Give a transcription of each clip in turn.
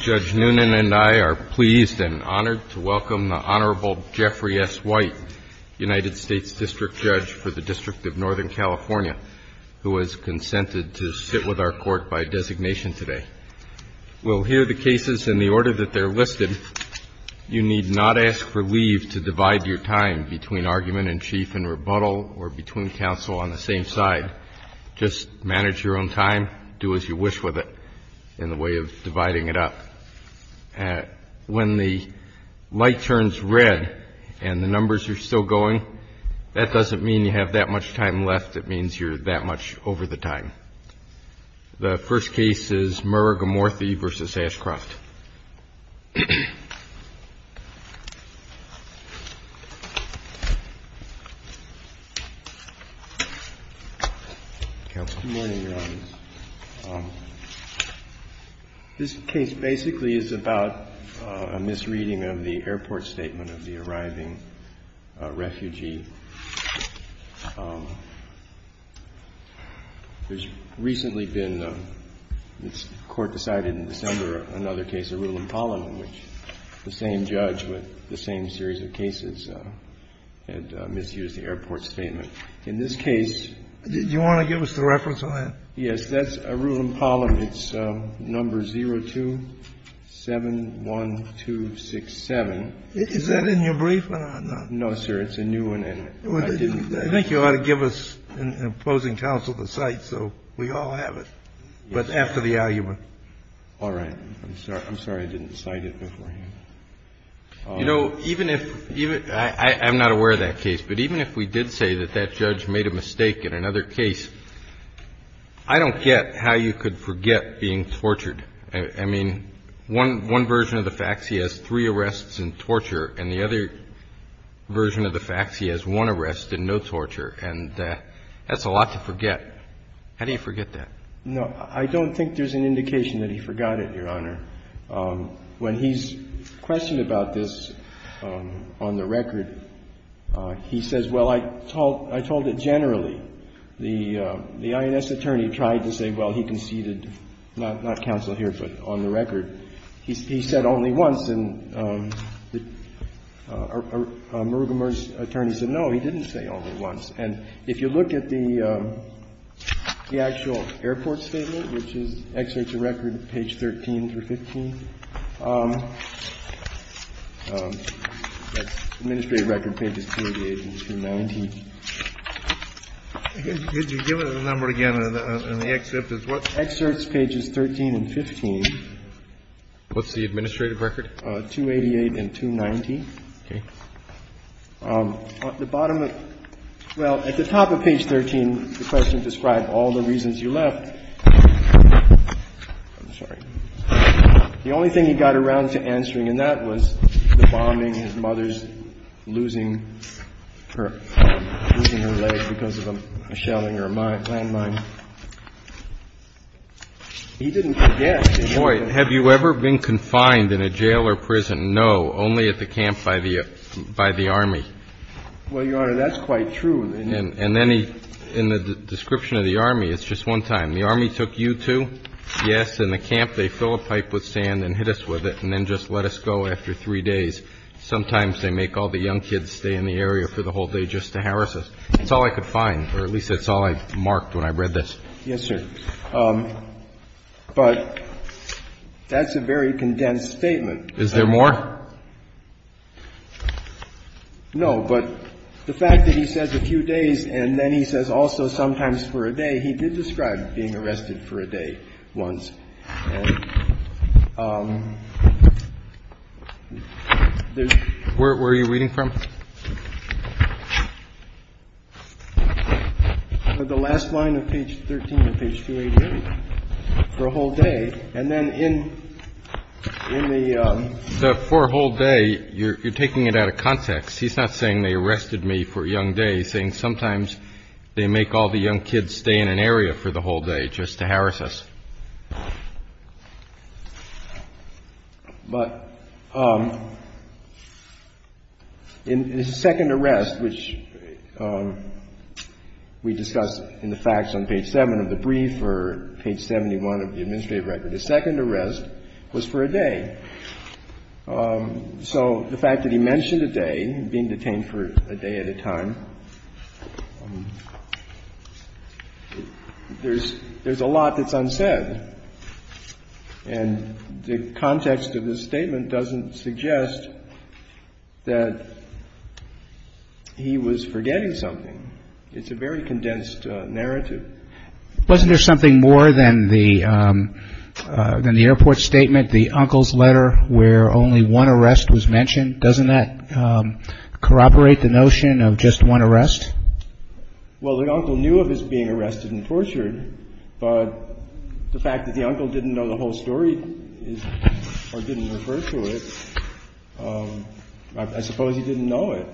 Judge Noonan and I are pleased and honored to welcome the Honorable Jeffrey S. White, United States District Judge for the District of Northern California, who has consented to sit with our court by designation today. We'll hear the cases in the order that they're listed. You need not ask for leave to divide your time between argument in chief and rebuttal or between counsel on the same side. Just manage your own time, do as you wish with it in the way of dividing it up. When the light turns red and the numbers are still going, that doesn't mean you have that much time left. It means you're that much over the time. The first case is MURUGAMORTHY v. ASHCROFT. Counsel. Good morning, Your Honor. This case basically is about a misreading of the airport statement of the arriving refugee. There's recently been, the court decided in December, another case, Arulam-Palem, in which the same judge with the same series of cases had misused the airport statement. In this case, Do you want to give us the reference on that? Yes, that's Arulam-Palem. It's number 02-71267. Is that in your brief or not? No, sir. It's a new one, and I didn't. I think you ought to give us an opposing counsel to cite, so we all have it, but after the argument. All right. I'm sorry I didn't cite it beforehand. You know, even if, I'm not aware of that case, but even if we did say that that judge made a mistake in another case, I don't get how you could forget being tortured. I mean, one version of the facts, he has three arrests and torture, and the other version of the facts, he has one arrest and no torture. And that's a lot to forget. How do you forget that? No, I don't think there's an indication that he forgot it, Your Honor. When he's questioned about this on the record, he says, well, I told it generally. The INS attorney tried to say, well, he conceded, not counsel here, but on the record. He said only once, and Murugamur's attorney said, no, he didn't say only once. And if you look at the actual airport statement, which is, excerpts of record, page 13 through 15, that's the administrative record, pages 288 and 290. Could you give it a number again in the excerpt? It's what? Excerpts pages 13 and 15. What's the administrative record? 288 and 290. OK. At the bottom of the – well, at the top of page 13, the question described all the reasons you left. I'm sorry. The only thing he got around to answering, and that was the bombing, his mother's losing her leg because of a shelling or a landmine, he didn't forget. Have you ever been confined in a jail or prison? No, only at the camp by the Army. Well, Your Honor, that's quite true. And then he, in the description of the Army, it's just one time. The Army took you, too? Yes. In the camp, they fill a pipe with sand and hit us with it and then just let us go after three days. Sometimes they make all the young kids stay in the area for the whole day just to harass us. That's all I could find, or at least that's all I marked when I read this. Yes, sir. But that's a very condensed statement. Is there more? No, but the fact that he says a few days and then he says also sometimes for a day, he did describe being arrested for a day once. Where are you reading from? The last line of page 13 of page 288, for a whole day. And then in the, for a whole day, you're taking it out of context. He's not saying they arrested me for a young day, he's saying sometimes they make all the young kids stay in an area for the whole day just to harass us. But in his second arrest, which we discussed in the facts on page 7 of the brief or page 71 of the administrative record, his second arrest was for a day. So the fact that he mentioned a day, being detained for a day at a time, there's a lot that's unsaid. And the context of this statement doesn't suggest that he was forgetting something. It's a very condensed narrative. Wasn't there something more than the airport statement, the uncle's letter where only one arrest was mentioned? Doesn't that corroborate the notion of just one arrest? Well, the uncle knew of his being arrested and tortured, but the fact that the uncle didn't know the whole story or didn't refer to it, I suppose he didn't know it.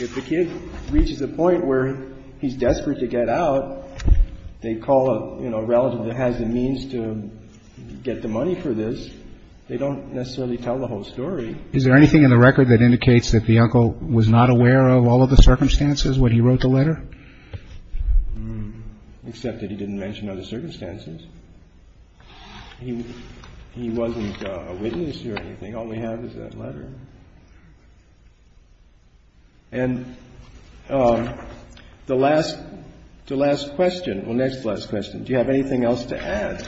If the kid reaches a point where he's desperate to get out, they call a relative that has the means to get the money for this. They don't necessarily tell the whole story. Is there anything in the record that indicates that the uncle was not aware of all of the circumstances when he wrote the letter? Except that he didn't mention other circumstances. He wasn't a witness or anything. All we have is that letter. And the last question, well, next to last question, do you have anything else to add?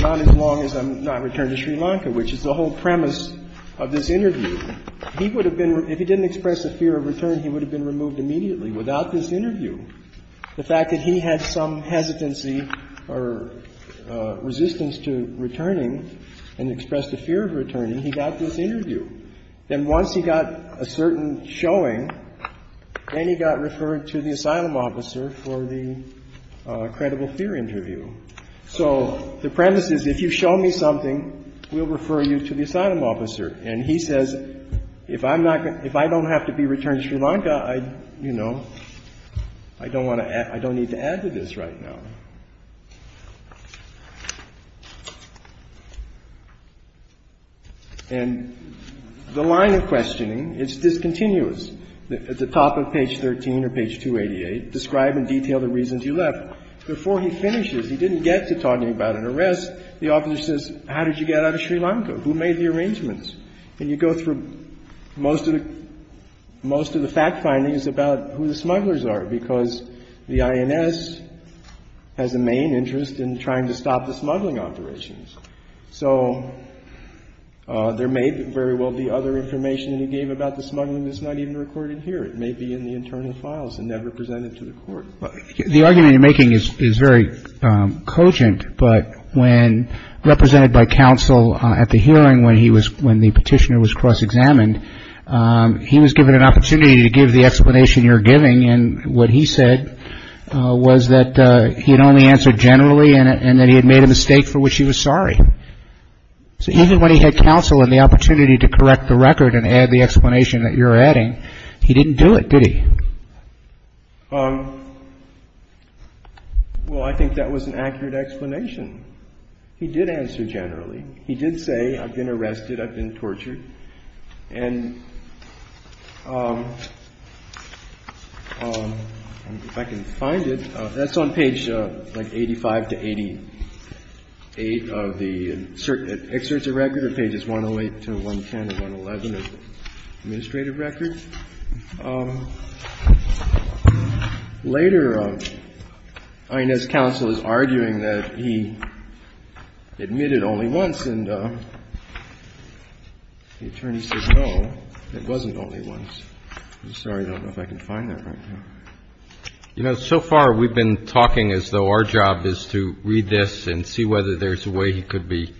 Not as long as I'm not returned to Sri Lanka, which is the whole premise of this interview. If he didn't express a fear of return, he would have been removed immediately without this interview. The fact that he had some hesitancy or resistance to returning and expressed a fear of returning, he got this interview. Then once he got a certain showing, then he got referred to the asylum officer for the credible fear interview. So the premise is if you show me something, we'll refer you to the asylum officer. And he says, if I don't have to be returned to Sri Lanka, I, you know, I don't need to add to this right now. And the line of questioning, it's discontinuous. At the top of page 13 or page 288, describe in detail the reasons you left. Before he finishes, he didn't get to talking about an arrest. The officer says, how did you get out of Sri Lanka? Who made the arrangements? And you go through most of the fact findings about who the smugglers are, because the INS has a main interest in trying to stop the smuggling operations. So there may very well be other information that he gave about the smuggling that's not even recorded here. It may be in the internal files and never presented to the Court. But the argument you're making is very cogent. But when represented by counsel at the hearing when he was, when the petitioner was cross-examined, he was given an opportunity to give the explanation you're giving and what he said was that he had only answered generally and that he had made a mistake for which he was sorry. So even when he had counsel and the opportunity to correct the record and add the explanation that you're adding, he didn't do it, did he? Well, I think that was an accurate explanation. He did answer generally. He did say, I've been arrested, I've been tortured. And if I can find it, that's on page like 85 to 88 of the excerpts of record or pages 108 to 110 or 111 of the administrative record. Later, INS counsel is arguing that he admitted only once and the attorney says, no, it wasn't only once. I'm sorry. I don't know if I can find that right now. You know, so far we've been talking as though our job is to read this and see whether there's a way he could be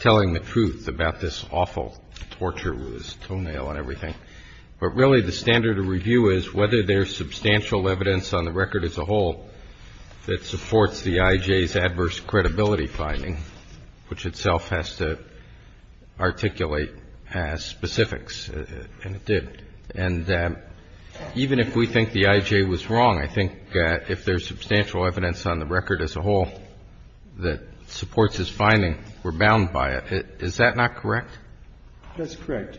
telling the truth about this awful torture with his toenail and everything. But really the standard of review is whether there's substantial evidence on the record as a whole that supports the IJ's adverse credibility finding, which itself has to articulate specifics. And it did. And even if we think the IJ was wrong, I think if there's substantial evidence on the record as a whole that supports his finding, we're bound by it. Is that not correct? That's correct.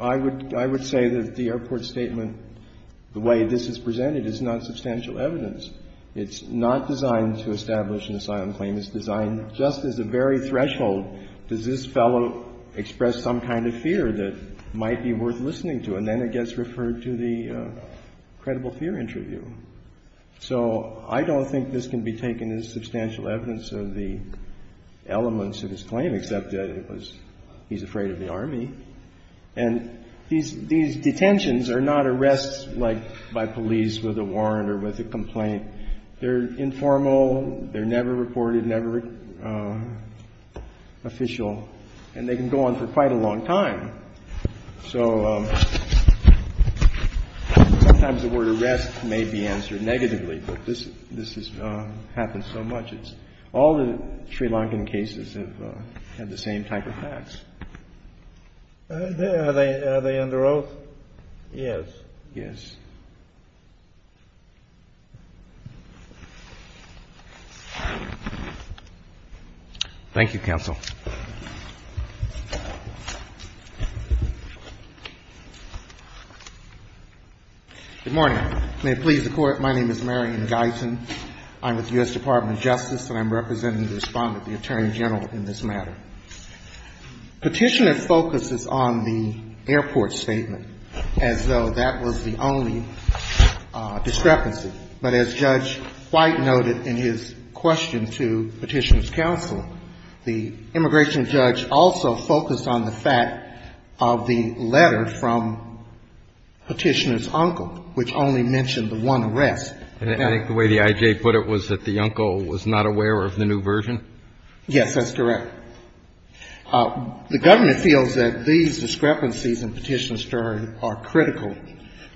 I would say that the airport statement, the way this is presented, is not substantial evidence. It's not designed to establish an asylum claim. It's designed just as a very threshold. Does this fellow express some kind of fear that might be worth listening to? And then it gets referred to the credible fear interview. So I don't think this can be taken as substantial evidence of the elements of his claim, except that it was he's afraid of the Army. And these detentions are not arrests like by police with a warrant or with a complaint They're informal. They're never reported, never official. And they can go on for quite a long time. So sometimes the word arrest may be answered negatively, but this has happened so much. All the Sri Lankan cases have had the same type of facts. Are they under oath? Yes. Yes. Thank you, counsel. Good morning. May it please the Court. My name is Marion Guyton. I'm with the U.S. Department of Justice and I'm representing the Respondent, the Attorney General, in this matter. Petitioner focuses on the airport statement as though that was the only discrepancy. But as Judge White noted in his question to Petitioner's counsel, the immigration judge also focused on the fact of the letter from Petitioner's uncle, which only mentioned the one arrest. I think the way the I.J. put it was that the uncle was not aware of the new version? Yes, that's correct. The government feels that these discrepancies in Petitioner's story are critical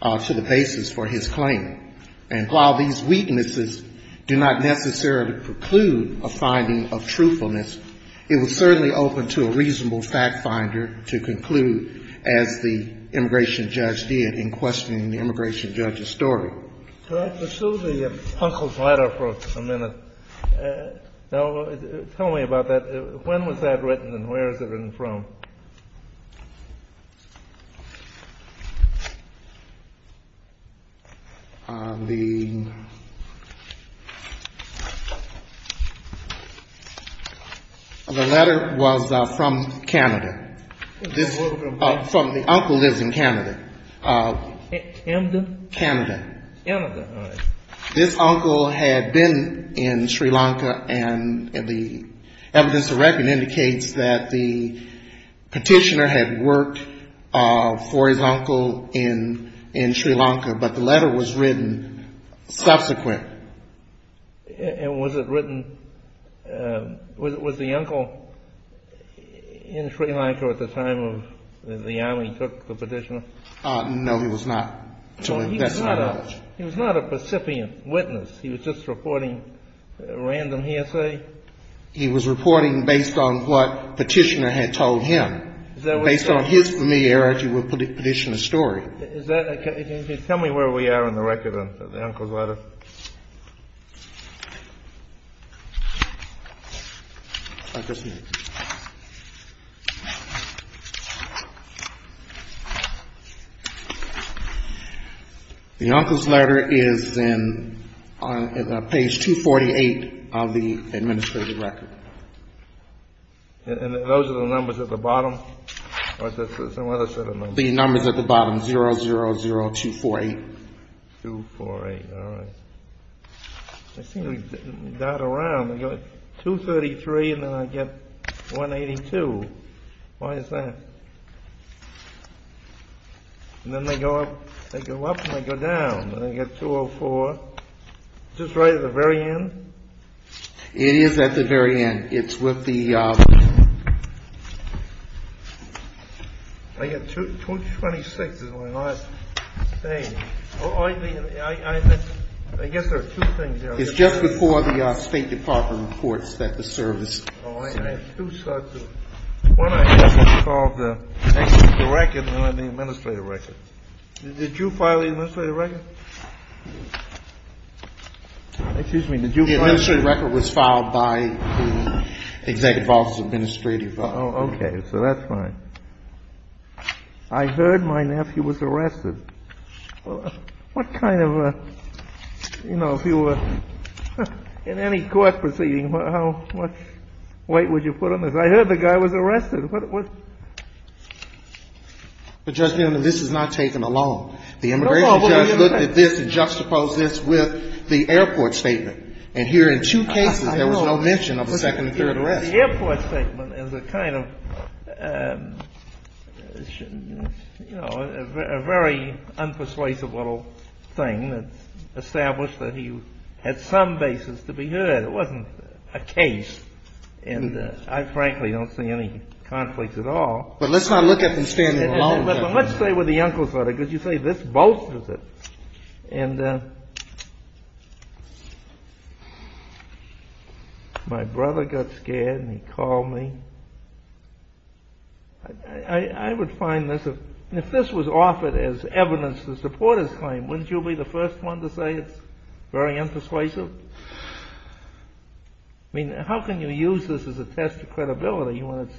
to the basis for his claim. And while these weaknesses do not necessarily preclude a finding of truthfulness, it was certainly open to a reasonable fact finder to conclude, as the immigration judge did in questioning the immigration judge's story. Could I pursue the uncle's letter for a minute? Tell me about that. When was that written and where is it written from? The letter was from Canada. The uncle lives in Canada. Canada? Canada. Canada, all right. This uncle had been in Sri Lanka and the evidence to reckon indicates that the Petitioner had worked for his uncle in Sri Lanka, but the letter was written subsequent. And was it written, was the uncle in Sri Lanka at the time of the army took the Petitioner? No, he was not. He was not a recipient witness. He was just reporting random hearsay? He was reporting based on what Petitioner had told him. Based on his familiarity with Petitioner's story. Tell me where we are in the record of the uncle's letter. The uncle's letter is in page 248 of the administrative record. And those are the numbers at the bottom? Or is there some other set of numbers? The numbers at the bottom, 000248. 248, all right. They seem to dot around. They go 233 and then I get 182. Why is that? And then they go up and they go down. And I get 204. Is this right at the very end? It is at the very end. It's with the... I get 226 is what I'm saying. I guess there are two things there. It's just before the State Department reports that the service... I have two sets of... One I have is called the record and then the administrative record. Did you file the administrative record? Excuse me, did you file... The administrative record was filed by the Executive Office of Administrative... Oh, okay. So that's fine. I heard my nephew was arrested. What kind of a... You know, if you were in any court proceeding, how much weight would you put on this? I heard the guy was arrested. But, Judge Neal, this is not taken alone. The immigration judge looked at this and juxtaposed this with the airport statement. And here in two cases there was no mention of a second or third arrest. The airport statement is a kind of, you know, a very unpersuasive little thing that's established that he had some basis to be heard. It wasn't a case. And I frankly don't see any conflicts at all. But let's not look at them standing alone. Let's stay with the uncle's letter, because you say this bolsters it. My brother got scared and he called me. I would find this... If this was offered as evidence to support his claim, wouldn't you be the first one to say it's very unpersuasive? I mean, how can you use this as a test of credibility when it's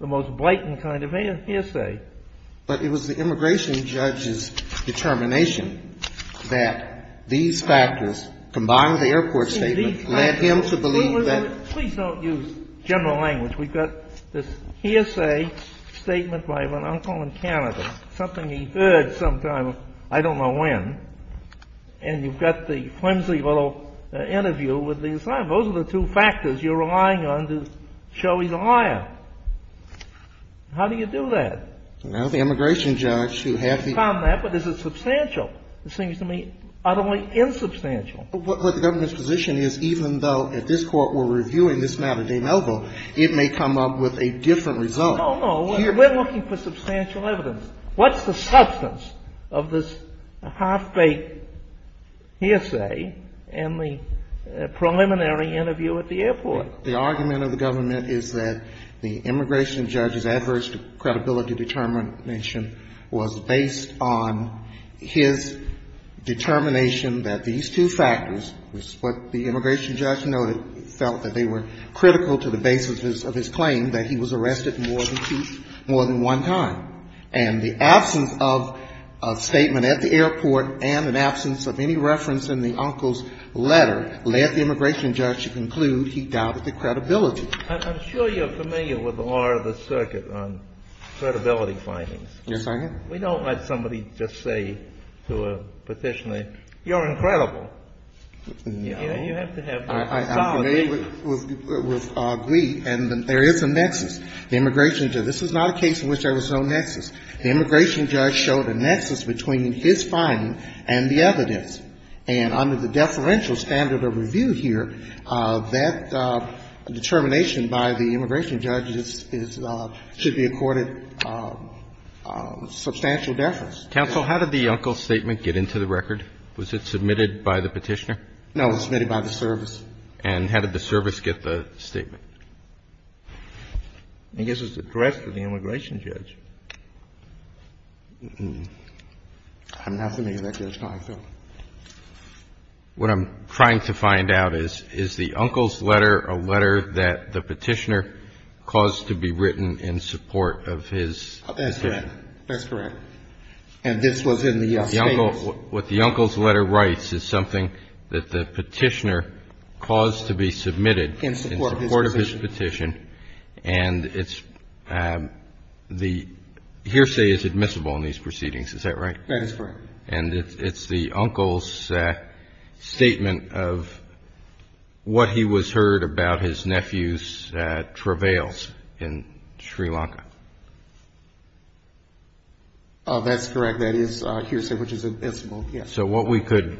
the most blatant kind of hearsay? But it was the immigration judge's determination that these factors, combined with the airport statement, led him to believe that... Please don't use general language. We've got this hearsay statement by an uncle in Canada, something he heard sometime, I don't know when. And you've got the flimsy little interview with the assignment. Those are the two factors you're relying on to show he's a liar. How do you do that? Well, the immigration judge who had the... But is it substantial? It seems to me utterly insubstantial. What the government's position is, even though at this court we're reviewing this matter de novo, it may come up with a different result. No, no. We're looking for substantial evidence. What's the substance of this half-baked hearsay and the preliminary interview at the airport? The argument of the government is that the immigration judge's adverse credibility determination was based on his determination that these two factors, what the immigration judge noted, felt that they were critical to the basis of his claim, that he was arrested more than one time. And the absence of a statement at the airport and an absence of any reference in the uncle's letter led the immigration judge to conclude he doubted the credibility. I'm sure you're familiar with the law of the circuit on credibility findings. Yes, I am. We don't let somebody just say to a petitioner, you're incredible. No. You have to have... I'm familiar with Glee, and there is a nexus. The immigration judge, this is not a case in which there was no nexus. The immigration judge showed a nexus between his finding and the evidence. And under the deferential standard of review here, that determination by the immigration judge should be accorded substantial deference. Counsel, how did the uncle's statement get into the record? Was it submitted by the petitioner? No, it was submitted by the service. And how did the service get the statement? I guess it's addressed to the immigration judge. I'm not familiar with that case, Congressman. What I'm trying to find out is, is the uncle's letter a letter that the petitioner caused to be written in support of his opinion? That's correct. That's correct. And this was in the statement. What the uncle's letter writes is something that the petitioner caused to be submitted in support of his petition. In support of his petition. And it's the hearsay is admissible in these proceedings. Is that right? That is correct. And it's the uncle's statement of what he was heard about his nephew's travails in Sri Lanka. That's correct. That is hearsay which is admissible, yes. So what we could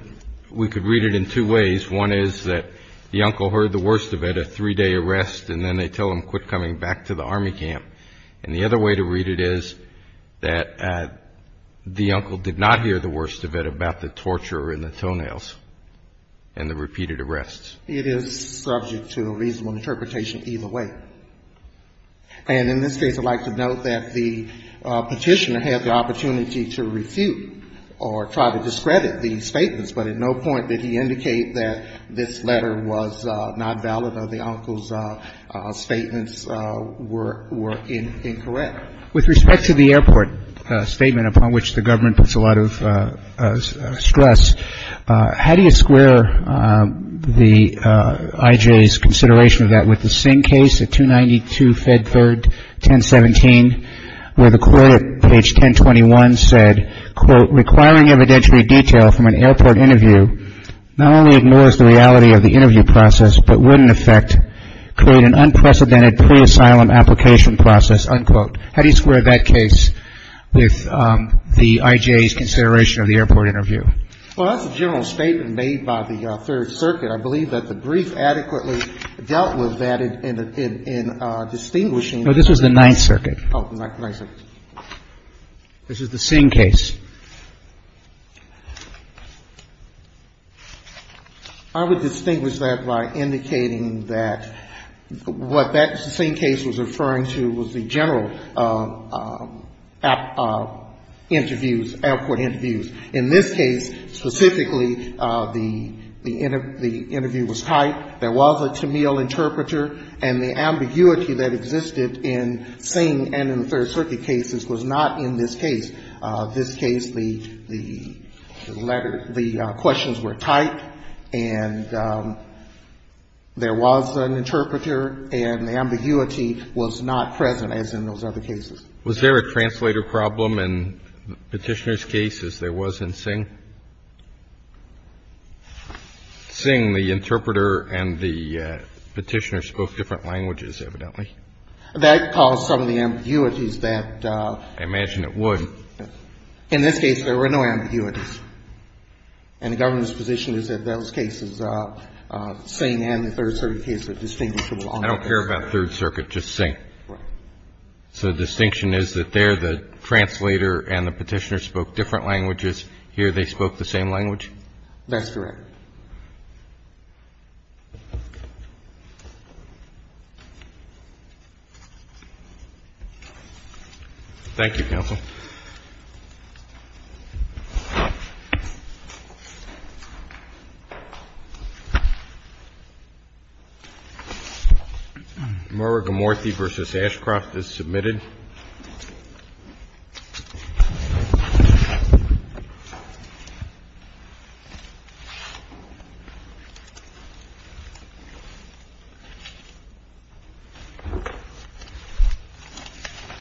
read it in two ways. One is that the uncle heard the worst of it, a three-day arrest, and then they tell him quit coming back to the army camp. And the other way to read it is that the uncle did not hear the worst of it about the torture and the toenails and the repeated arrests. It is subject to a reasonable interpretation either way. And in this case, I'd like to note that the petitioner had the opportunity to refute or try to discredit the statements, but at no point did he indicate that this letter was not valid or the uncle's statements were incorrect. With respect to the airport statement upon which the government puts a lot of stress, how do you square the I.J.'s consideration of that with the same case at 292 Fedford 1017 where the court at page 1021 said, quote, requiring evidentiary detail from an airport interview not only ignores the reality of the interview process, but would in effect create an unprecedented pre-asylum application process, unquote. How do you square that case with the I.J.'s consideration of the airport interview? Well, that's a general statement made by the Third Circuit. I believe that the brief adequately dealt with that in distinguishing. No, this was the Ninth Circuit. Oh, the Ninth Circuit. This is the same case. I would distinguish that by indicating that what that same case was referring to was the general interviews, airport interviews. In this case specifically, the interview was tight. There was a Tamil interpreter, and the ambiguity that existed in Singh and in the Third Circuit cases was not in this case. This case, the letter, the questions were tight, and there was an interpreter, and the ambiguity was not present as in those other cases. Was there a translator problem in Petitioner's case as there was in Singh? Singh, the interpreter and the Petitioner spoke different languages, evidently. That caused some of the ambiguities that ---- I imagine it would. In this case, there were no ambiguities. And the government's position is that those cases, Singh and the Third Circuit cases are distinguishable. I don't care about Third Circuit, just Singh. Right. So the distinction is that there the translator and the Petitioner spoke different languages. Here they spoke the same language? That's correct. Thank you, Counsel. Thank you.